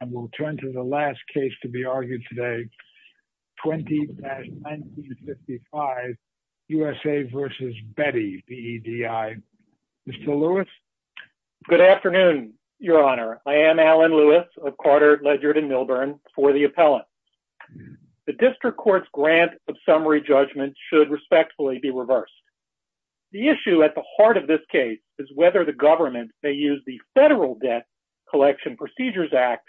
and we'll turn to the last case to be argued today, 20-1955, USA v. Bedi, B-E-D-I. Mr. Lewis? Good afternoon, your honor. I am Alan Lewis of Carter, Ledger, and Milburn for the appellate. The district court's grant of summary judgment should respectfully be reversed. The issue at the heart of this case is whether the government may use the Federal Debt Collection Procedures Act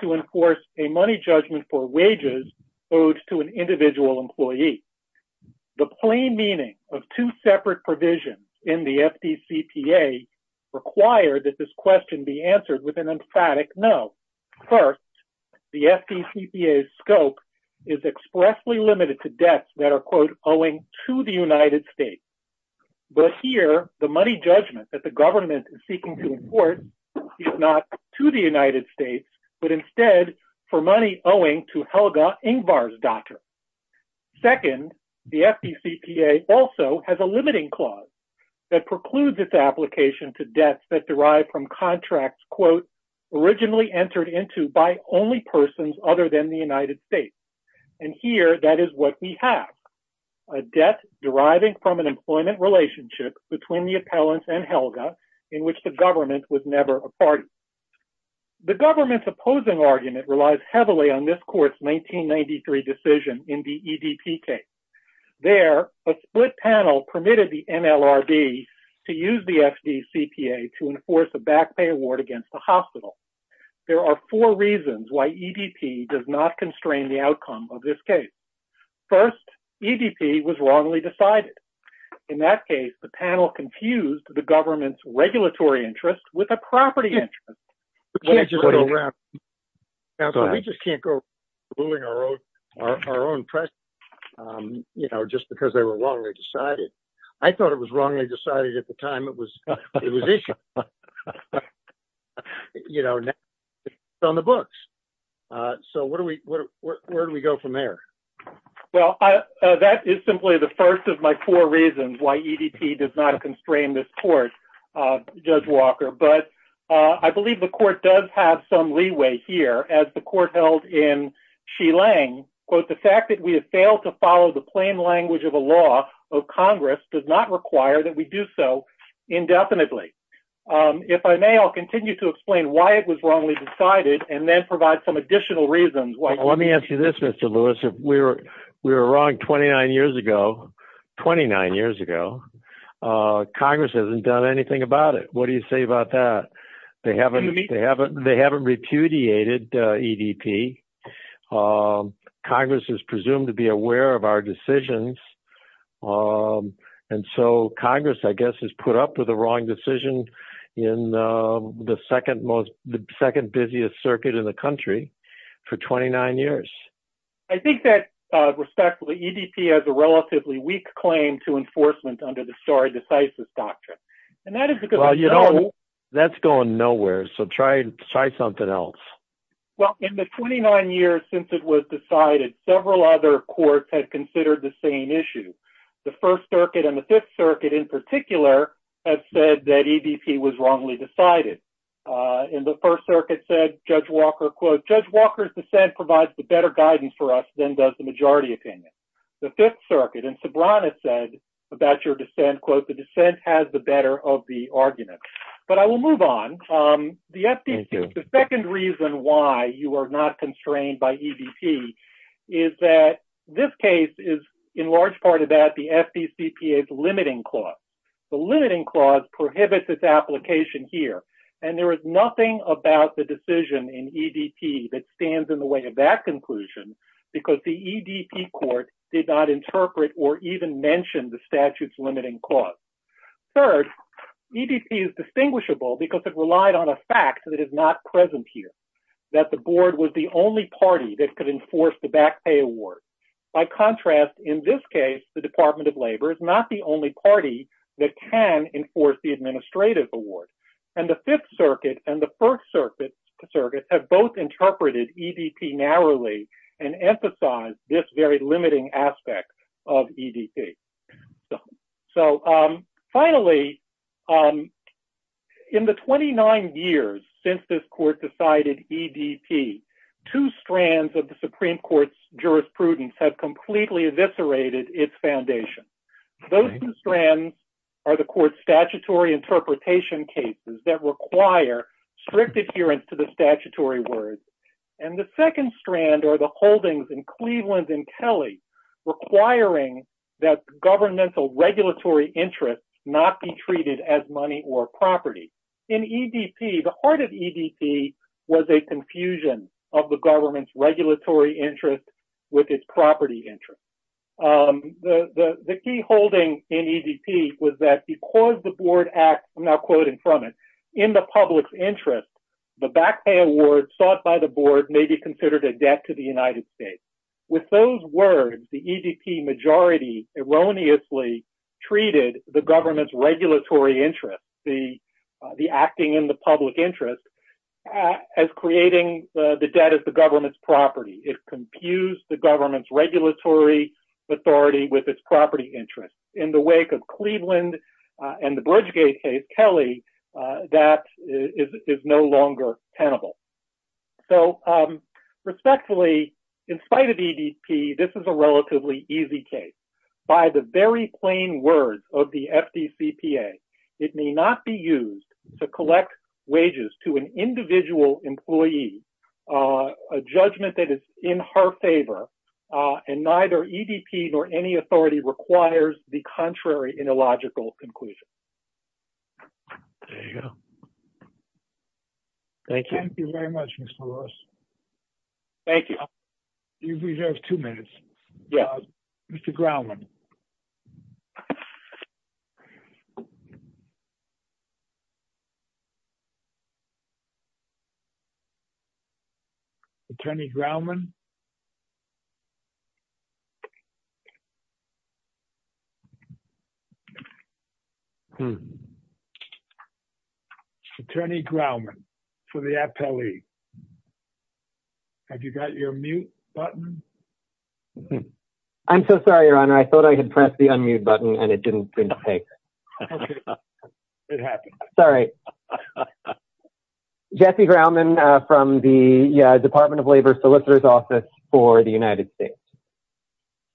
to enforce a money judgment for wages owed to an individual employee. The plain meaning of two separate provisions in the FDCPA require that this question be answered with an emphatic no. First, the FDCPA's scope is expressly limited to debts that are, quote, not to the United States but instead for money owing to Helga Ingvar's daughter. Second, the FDCPA also has a limiting clause that precludes its application to debts that derive from contracts, quote, originally entered into by only persons other than the United States. And here, that is what we have, a debt deriving from an employment relationship between the appellants and Helga, in which the government was never a party. The government's opposing argument relies heavily on this court's 1993 decision in the EDP case. There, a split panel permitted the NLRB to use the FDCPA to enforce a back pay award against the hospital. There are four reasons why EDP does not constrain the outcome of this case. First, EDP was wrongly decided. In that case, the panel confused the government's regulatory interest with a property interest. We just can't go ruling our own press, you know, just because they were wrongly decided. I thought it was wrongly decided at the time it was issued. You know, it's on the books. So where do we go from there? Well, that is simply the first of my four reasons why EDP does not constrain this court, Judge Walker. But I believe the court does have some leeway here, as the court held in Shilang, quote, the fact that we have failed to follow the plain language of a law of Congress does not require that we do so indefinitely. If I may, I'll continue to explain why it was wrongly decided and then provide some additional reasons why. Let me ask you this, Mr. Lewis. If we were wrong 29 years ago, 29 years ago, Congress hasn't done anything about it. What do you say about that? They haven't repudiated EDP. Congress is presumed to be aware of our decisions. And so Congress, I guess, has put up with the wrong decision in the second busiest circuit in the country for 29 years. I think that, respectfully, EDP has a relatively weak claim to enforcement under the sorry decisis doctrine. And that is because... Well, you know, that's going nowhere. So try something else. Well, in the 29 years since it was decided, several other courts had considered the same issue. The First Circuit and the Fifth Circuit, in particular, have said that EDP was wrongly decided. And the First Circuit said, Judge Walker, quote, Judge Walker's dissent provides the better guidance for us than does the majority opinion. The Fifth Circuit and Sobrana said about your dissent, quote, the dissent has the better of the argument. But I will move on. The second reason why you are not constrained by EDP is that this case is, in large part of that, the FDCPA's limiting clause. The limiting clause prohibits its application here. And there is nothing about the decision in EDP that stands in the way of that conclusion because the EDP court did not interpret or even mention the statute's limiting clause. Third, EDP is distinguishable because it relied on a fact that is not present here, that the board was the only party that could enforce the back pay award. By contrast, in this case, the Department of Labor is not the only party that can enforce the administrative award. And the Fifth Circuit and the First Circuit have both interpreted EDP narrowly and emphasize this very limiting aspect of EDP. So finally, in the 29 years since this court decided EDP, two strands of the Supreme Court's jurisprudence have completely eviscerated its foundation. Those two strands are the court's statutory interpretation cases that require strict adherence to the statutory words. And the second governmental regulatory interest not be treated as money or property. In EDP, the heart of EDP was a confusion of the government's regulatory interest with its property interest. The key holding in EDP was that because the board act, I'm now quoting from it, in the public's interest, the back pay award sought by the board may be considered a debt to the United States. With those words, the EDP majority erroneously treated the government's regulatory interest, the acting in the public interest, as creating the debt as the government's property. It confused the government's regulatory authority with its property interest. In the wake of Cleveland and the Bridgegate case, Kelly, that is no longer tenable. So respectfully, in spite of EDP, this is a relatively easy case. By the very plain words of the FDCPA, it may not be used to collect wages to an individual employee, a judgment that is in her favor, and neither EDP nor any authority requires the contrary in a logical conclusion. There you go. Thank you. Thank you very much, Mr. Ross. Thank you. We have two minutes. Yes, Mr. Grumman. Attorney Grumman. Attorney Grumman, for the appellee. Have you got your mute button? I'm so sorry, Your Honor. I thought I had pressed the unmute button and it didn't take. It happened. Sorry. Jesse Grumman from the Department of Labor Solicitor's Office for the United States.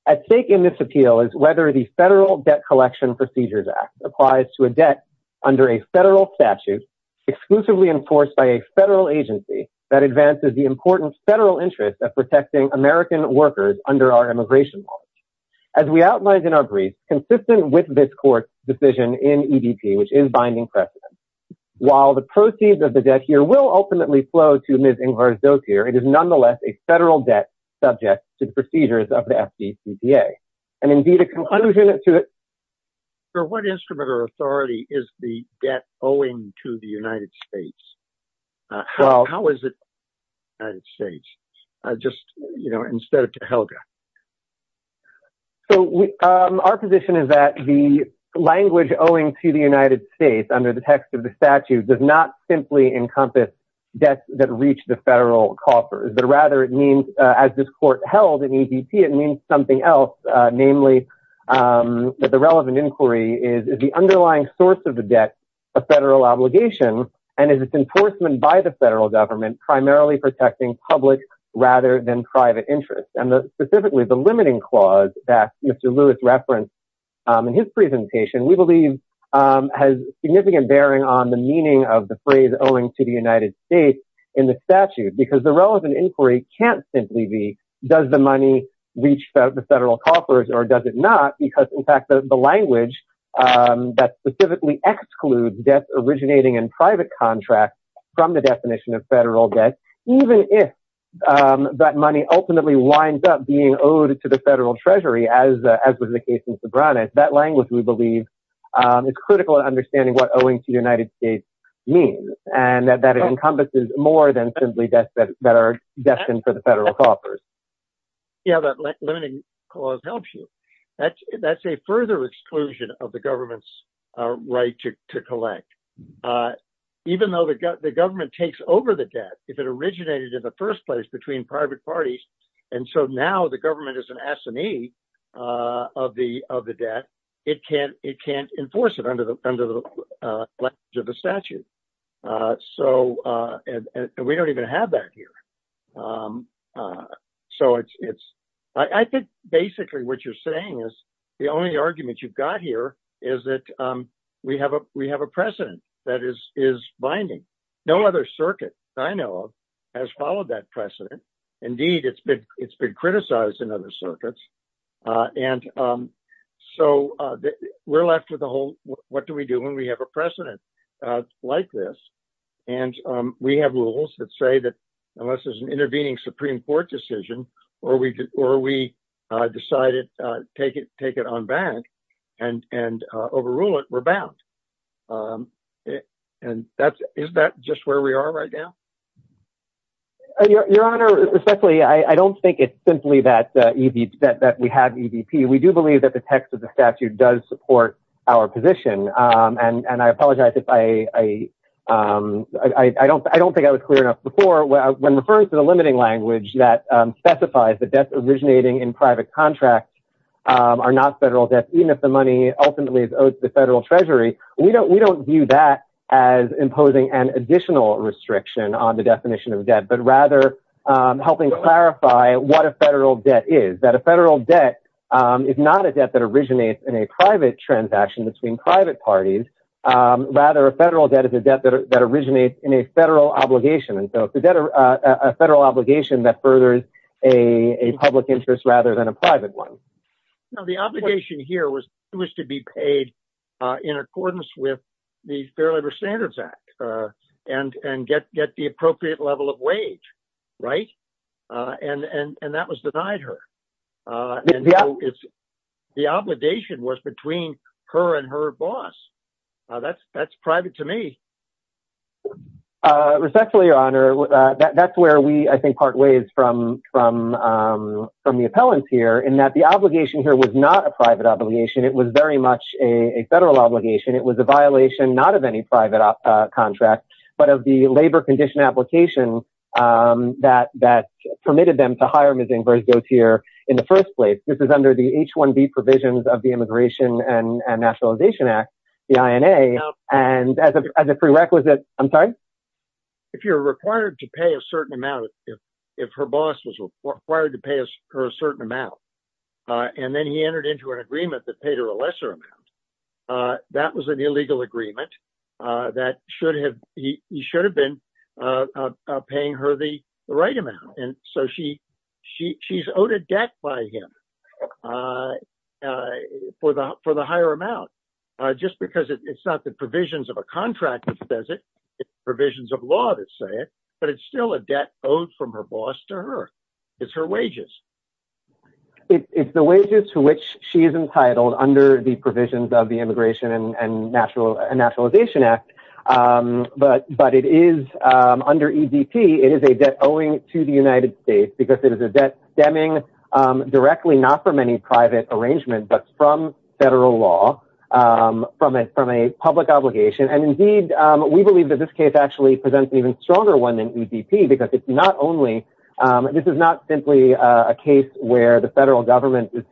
At stake in this appeal is whether the Federal Debt Collection Procedures Act applies to a debt under a federal statute exclusively enforced by a federal agency that advances the important federal interest of protecting American workers under our immigration law. As we outlined in our decision in EDP, which is binding precedent, while the proceeds of the debt here will ultimately flow to Ms. Ingler's dossier, it is nonetheless a federal debt subject to the procedures of the FDCPA. For what instrument or authority is the debt owing to the United States? How is it the United States, just, you know, instead of to HELGA? So, our position is that the language owing to the United States under the text of the statute does not simply encompass debts that reach the federal coffers, but rather it means, as this court held in EDP, it means something else. Namely, the relevant inquiry is, the underlying source of the debt, a federal obligation and is its enforcement by the federal government primarily protecting public rather than private interests. And specifically, the limiting clause that Mr. Lewis referenced in his presentation, we believe has significant bearing on the meaning of the phrase owing to the United States in the statute, because the relevant inquiry can't simply be, does the money reach the federal coffers or does it not? Because, in fact, the language that specifically excludes debts originating in private contracts from the definition of federal debt, even if that money ultimately winds up being owed to the federal treasury, as was the case in Sobranes, that language, we believe, is critical in understanding what owing to the United States means and that it encompasses more than simply debts that are destined for the federal coffers. Yeah, that limiting clause helps you. That's a further exclusion of the government's right to collect. Even though the government takes over the debt, if it originated in the first place between private parties, and so now the government is an assinee of the debt, it can't enforce it under the language of the statute. And we don't even have that here. So I think basically what you're saying is the only argument you've got here is that we have a precedent that is binding. No other circuit I know of has followed that precedent. Indeed, it's been criticized in other circuits. And so we're left with the whole, what do we do when we have a precedent like this? And we have rules that say that unless there's an intervening Supreme Court decision, or we decided to take it on bank and overrule it, we're bound. And is that just where we are right now? Your Honor, especially, I don't think it's simply that we have EVP. We do believe that the text of the statute does support our position. And I apologize if I don't think I was clear enough before. When referring to the limiting language that specifies that debts originating in private contracts are not federal debts, even if the money ultimately is owed to the federal treasury, we don't view that as imposing an additional restriction on the definition of debt, but rather helping clarify what a federal debt is. That a federal debt is not a debt that originates in a private transaction between private parties. Rather, a federal debt is a debt that originates in a federal obligation. And so if the debt, a federal obligation that furthers a public interest rather than a private one. Now, the obligation here was to be paid in accordance with the Fair Labor Standards Act and get the appropriate level of wage, right? And that was denied her. It's the obligation was between her and her boss. That's private to me. Respectfully, Your Honor, that's where we, I think, part ways from the appellants here in that the obligation here was not a private obligation. It was very much a federal obligation. It was a violation, not of any private contract, but of the labor condition application that permitted them to hire Ms. Ingres-Gauthier in the first place. This is under the H-1B provisions of the Immigration and Nationalization Act, the INA. And as a prerequisite, I'm sorry? If you're required to pay a certain amount, if her boss was required to pay her a certain amount, and then he entered into an agreement that paid her a lesser amount, that was an illegal agreement. He should have been paying her the right amount. And so she's owed a debt by him for the higher amount, just because it's not the provisions of a contract that says it, it's provisions of law that say it, but it's still a debt owed from her boss to her. It's her wages. It's the wages to which she is entitled under the Immigration and Nationalization Act. But it is under EDP, it is a debt owing to the United States because it is a debt stemming directly not from any private arrangement, but from federal law, from a public obligation. And indeed, we believe that this case actually presents an even stronger one than EDP because it's not only, this is not simply a case where the federal government is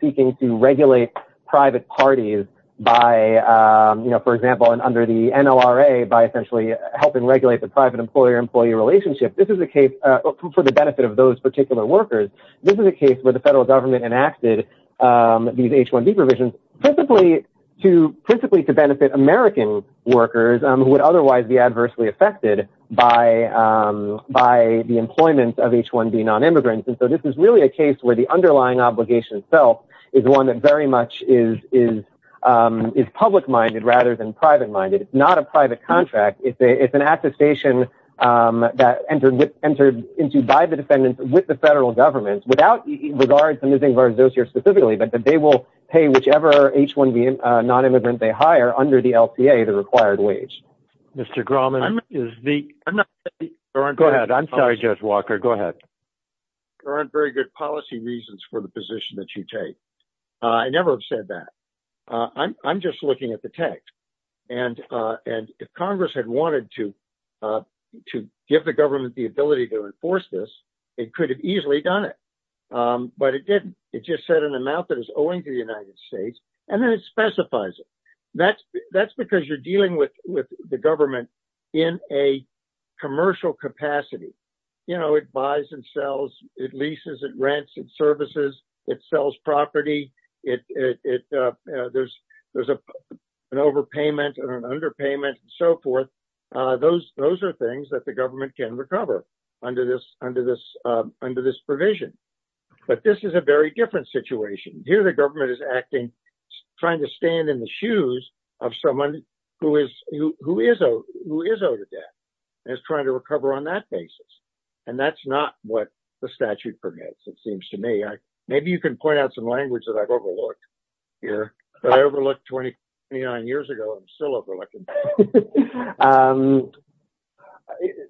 by, for example, and under the NLRA by essentially helping regulate the private employer-employee relationship for the benefit of those particular workers. This is a case where the federal government enacted these H-1B provisions principally to benefit American workers who would otherwise be adversely affected by the employment of H-1B non-immigrants. And so this is really a case where the underlying obligation itself is one that very much is public-minded rather than private-minded. It's not a private contract. It's an attestation that entered into by the defendants with the federal government without regard to losing their dossier specifically, but that they will pay whichever H-1B non-immigrant they hire under the LCA, the required wage. Mr. Grauman, is the- Go ahead. I'm sorry, Judge Walker. Go ahead. Mr. Walker, you have very good policy reasons for the position that you take, I never have said that. I'm just looking at the text. And if Congress had wanted to give the government the ability to enforce this, it could have easily done it. But it didn't. It just set an amount that it's owing to the United States, and then it specifies it. That's because you're dealing with the government in a commercial capacity. It buys and sells. It leases and rents and services. It sells property. There's an overpayment and an underpayment and so forth. Those are things that the government can recover under this provision. But this is a very different situation. Here the government is acting, trying to stand in the shoes of someone who is owed a debt and is trying to recover on that basis. And that's not what the statute permits, it seems to me. Maybe you can point out some language that I've overlooked here, but I overlooked 29 years ago and I'm still overlooking.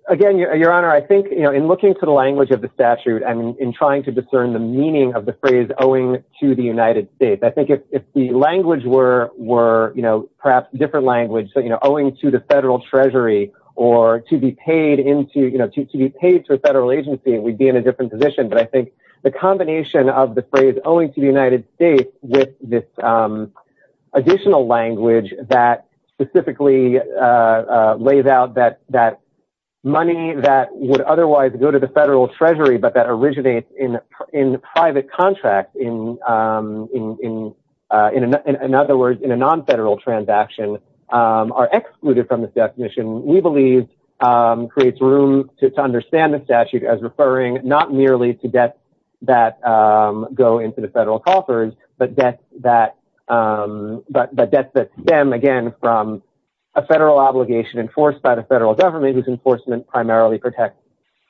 Again, Your Honor, I think in looking to the language of the statute and in trying to discern the meaning of the phrase, owing to the United States, I think if the language were perhaps a different language, owing to the federal treasury or to be paid to a federal agency, we'd be in a different position. But I think the combination of the phrase, owing to the United States, with this additional language that specifically lays out that money that would otherwise go to federal treasury, but that originates in private contracts, in other words, in a non-federal transaction, are excluded from this definition, we believe creates room to understand the statute as referring not merely to debts that go into the federal coffers, but debts that stem, again, from a federal obligation enforced by the federal government whose enforcement primarily protects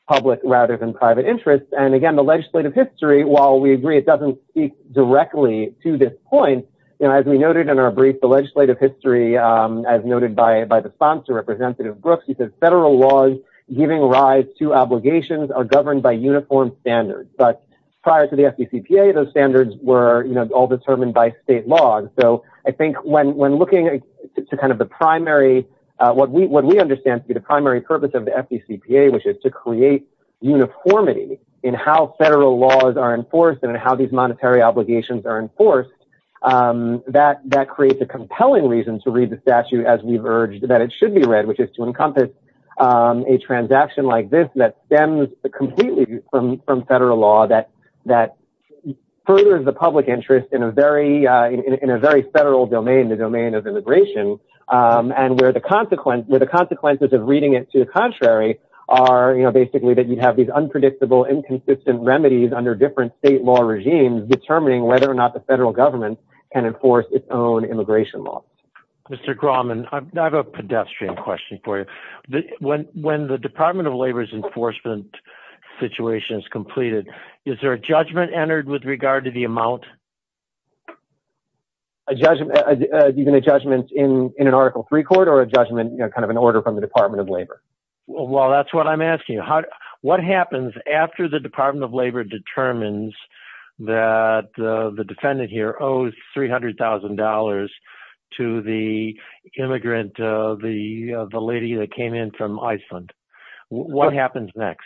public rather than private interests. And again, the legislative history, while we agree it doesn't speak directly to this point, as we noted in our brief, the legislative history, as noted by the sponsor, Representative Brooks, he said, federal laws giving rise to obligations are governed by uniform standards. But prior to the FDCPA, those standards were all determined by state laws. So I think when looking to kind of the primary, what we understand to be the primary purpose of the statute is to create uniformity in how federal laws are enforced and how these monetary obligations are enforced, that creates a compelling reason to read the statute as we've urged that it should be read, which is to encompass a transaction like this that stems completely from federal law that furthers the public interest in a very federal domain, the domain of immigration, and where the consequences of reading it to the contrary are, you know, basically that you have these unpredictable, inconsistent remedies under different state law regimes determining whether or not the federal government can enforce its own immigration law. Mr. Grauman, I have a pedestrian question for you. When the Department of Labor's enforcement situation is completed, is there a judgment, even a judgment in an Article III court or a judgment, you know, kind of an order from the Department of Labor? Well, that's what I'm asking. What happens after the Department of Labor determines that the defendant here owes $300,000 to the immigrant, the lady that came in from Iceland? What happens next?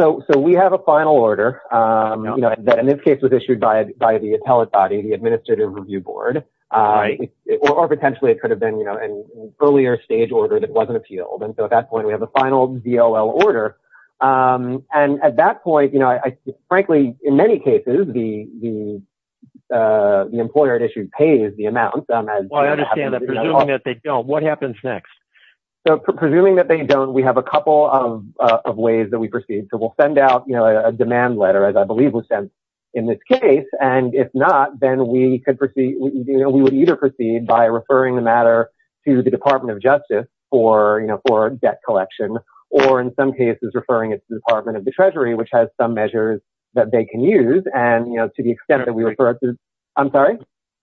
So we have a final order that in this case was issued by the Administrative Review Board, or potentially it could have been, you know, an earlier stage order that wasn't appealed. And so at that point, we have a final ZOL order. And at that point, you know, I frankly, in many cases, the employer at issue pays the amount. Well, I understand that, presuming that they don't, what happens next? So presuming that they don't, we have a couple of ways that we proceed. So we'll send out, you know, a demand letter, as I believe was sent in this case. And if not, then we could proceed, you know, we would either proceed by referring the matter to the Department of Justice for, you know, for debt collection, or in some cases, referring it to the Department of the Treasury, which has some measures that they can use. And, you know, to the extent that we refer it to, I'm sorry?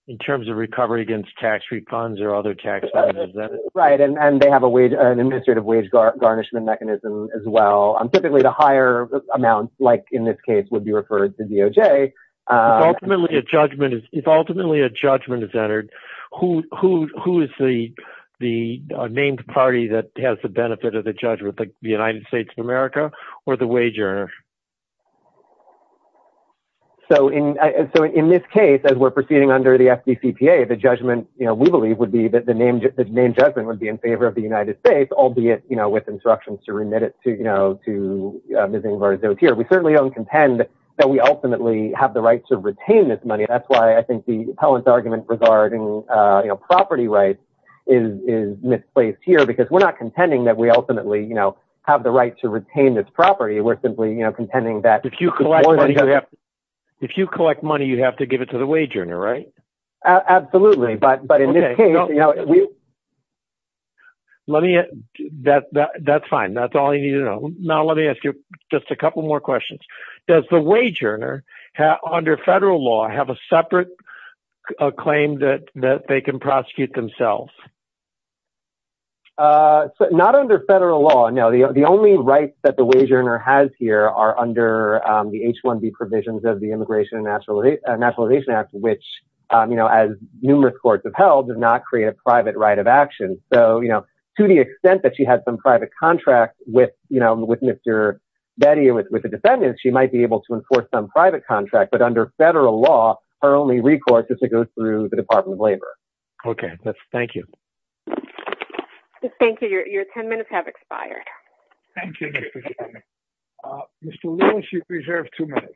In terms of recovery against tax refunds or other taxes? Right. And they have an administrative wage garnishment mechanism as well, typically to higher amounts, like in this case, would be referred to DOJ. If ultimately a judgment is entered, who is the named party that has the benefit of the judgment, like the United States of America, or the wage earner? So in this case, as we're proceeding under the FDCPA, the judgment, you know, we believe would be that the named judgment would be in favor of the United States, albeit, you know, with instructions to remit it to, you know, to Missing and Murdered Zones here. We certainly don't contend that we ultimately have the right to retain this money. That's why I think the appellant's argument regarding, you know, property rights is misplaced here, because we're not contending that we ultimately, you know, have the right to retain this property. We're simply, you know, contending that... If you collect money, you have to give it to the wage earner, right? Absolutely, but in this case, you know, we... Let me... That's fine. That's all I need to know. Now let me ask you just a couple more questions. Does the wage earner, under federal law, have a separate claim that they can prosecute themselves? Not under federal law, no. The only rights that the wage earner has here are under the H-1B provisions of the Immigration and Nationalization Act, which, you know, as numerous courts have held, does not create a private right of action. So, you know, to the extent that she had some private contract with, you know, with Mr. Betty or with the defendants, she might be able to enforce some private contract, but under federal law, her only recourse is to go through the Department of Labor. Okay, thank you. Thank you. Your 10 minutes have expired. Thank you, Mr. Chairman. Mr. Lewis, you've reserved two minutes.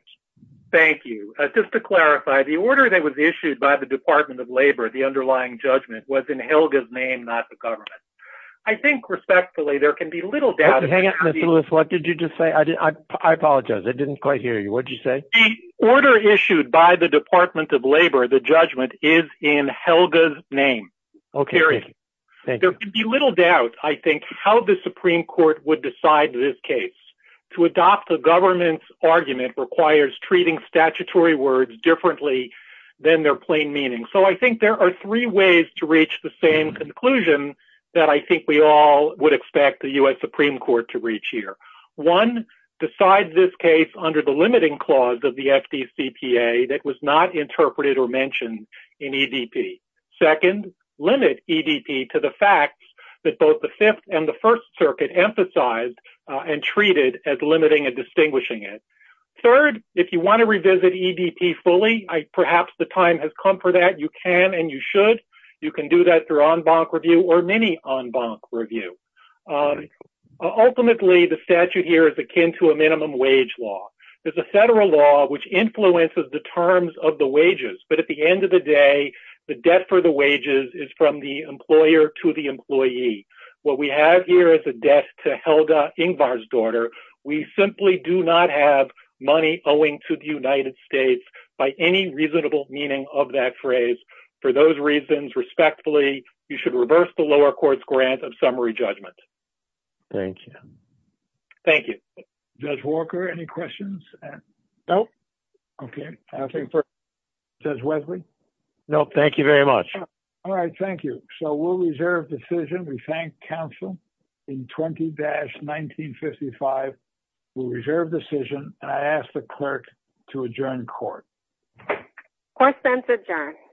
Thank you. Just to clarify, the order that was issued by the Department of Labor, the underlying judgment, was in Helga's name, not the government. I think, respectfully, there can be little doubt... Hang on, Mr. Lewis, what did you just say? I didn't... I apologize. I didn't quite hear you. What did you say? The order issued by the Department of Labor, the judgment, is in Helga's name. Okay. There can be little doubt, I think, how the Supreme Court would decide this case. To adopt the government's argument requires treating statutory words differently than their plain meaning. So I think there are three ways to reach the same conclusion that I think we all would expect the U.S. Supreme Court to reach here. One, decide this case under the limiting clause of the FDCPA that was not interpreted or mentioned in EDP. Second, limit EDP to the facts that both the Fifth and the First Circuit emphasized and treated as limiting and distinguishing it. Third, if you want to revisit EDP fully, perhaps the time has come for that. You can and you should. You can do that through en banc review or mini en banc review. Ultimately, the statute here is akin to a minimum wage law. There's a federal law which influences the terms of the wages, but at the end of the day, the debt for the wages is from the employer to the employee. What we have here is a debt to Helga Ingvar's daughter. We simply do not have money owing to the United States by any reasonable meaning of that phrase. For those reasons, respectfully, you should reverse the lower court's grant of summary judgment. Thank you. Thank you. Judge Walker, any questions? No. Okay. Judge Wesley? No. Thank you very much. All right. Thank you. So, we'll reserve decision. We thank counsel in 20-1955. We'll reserve decision. I ask the clerk to adjourn court. Court is adjourned.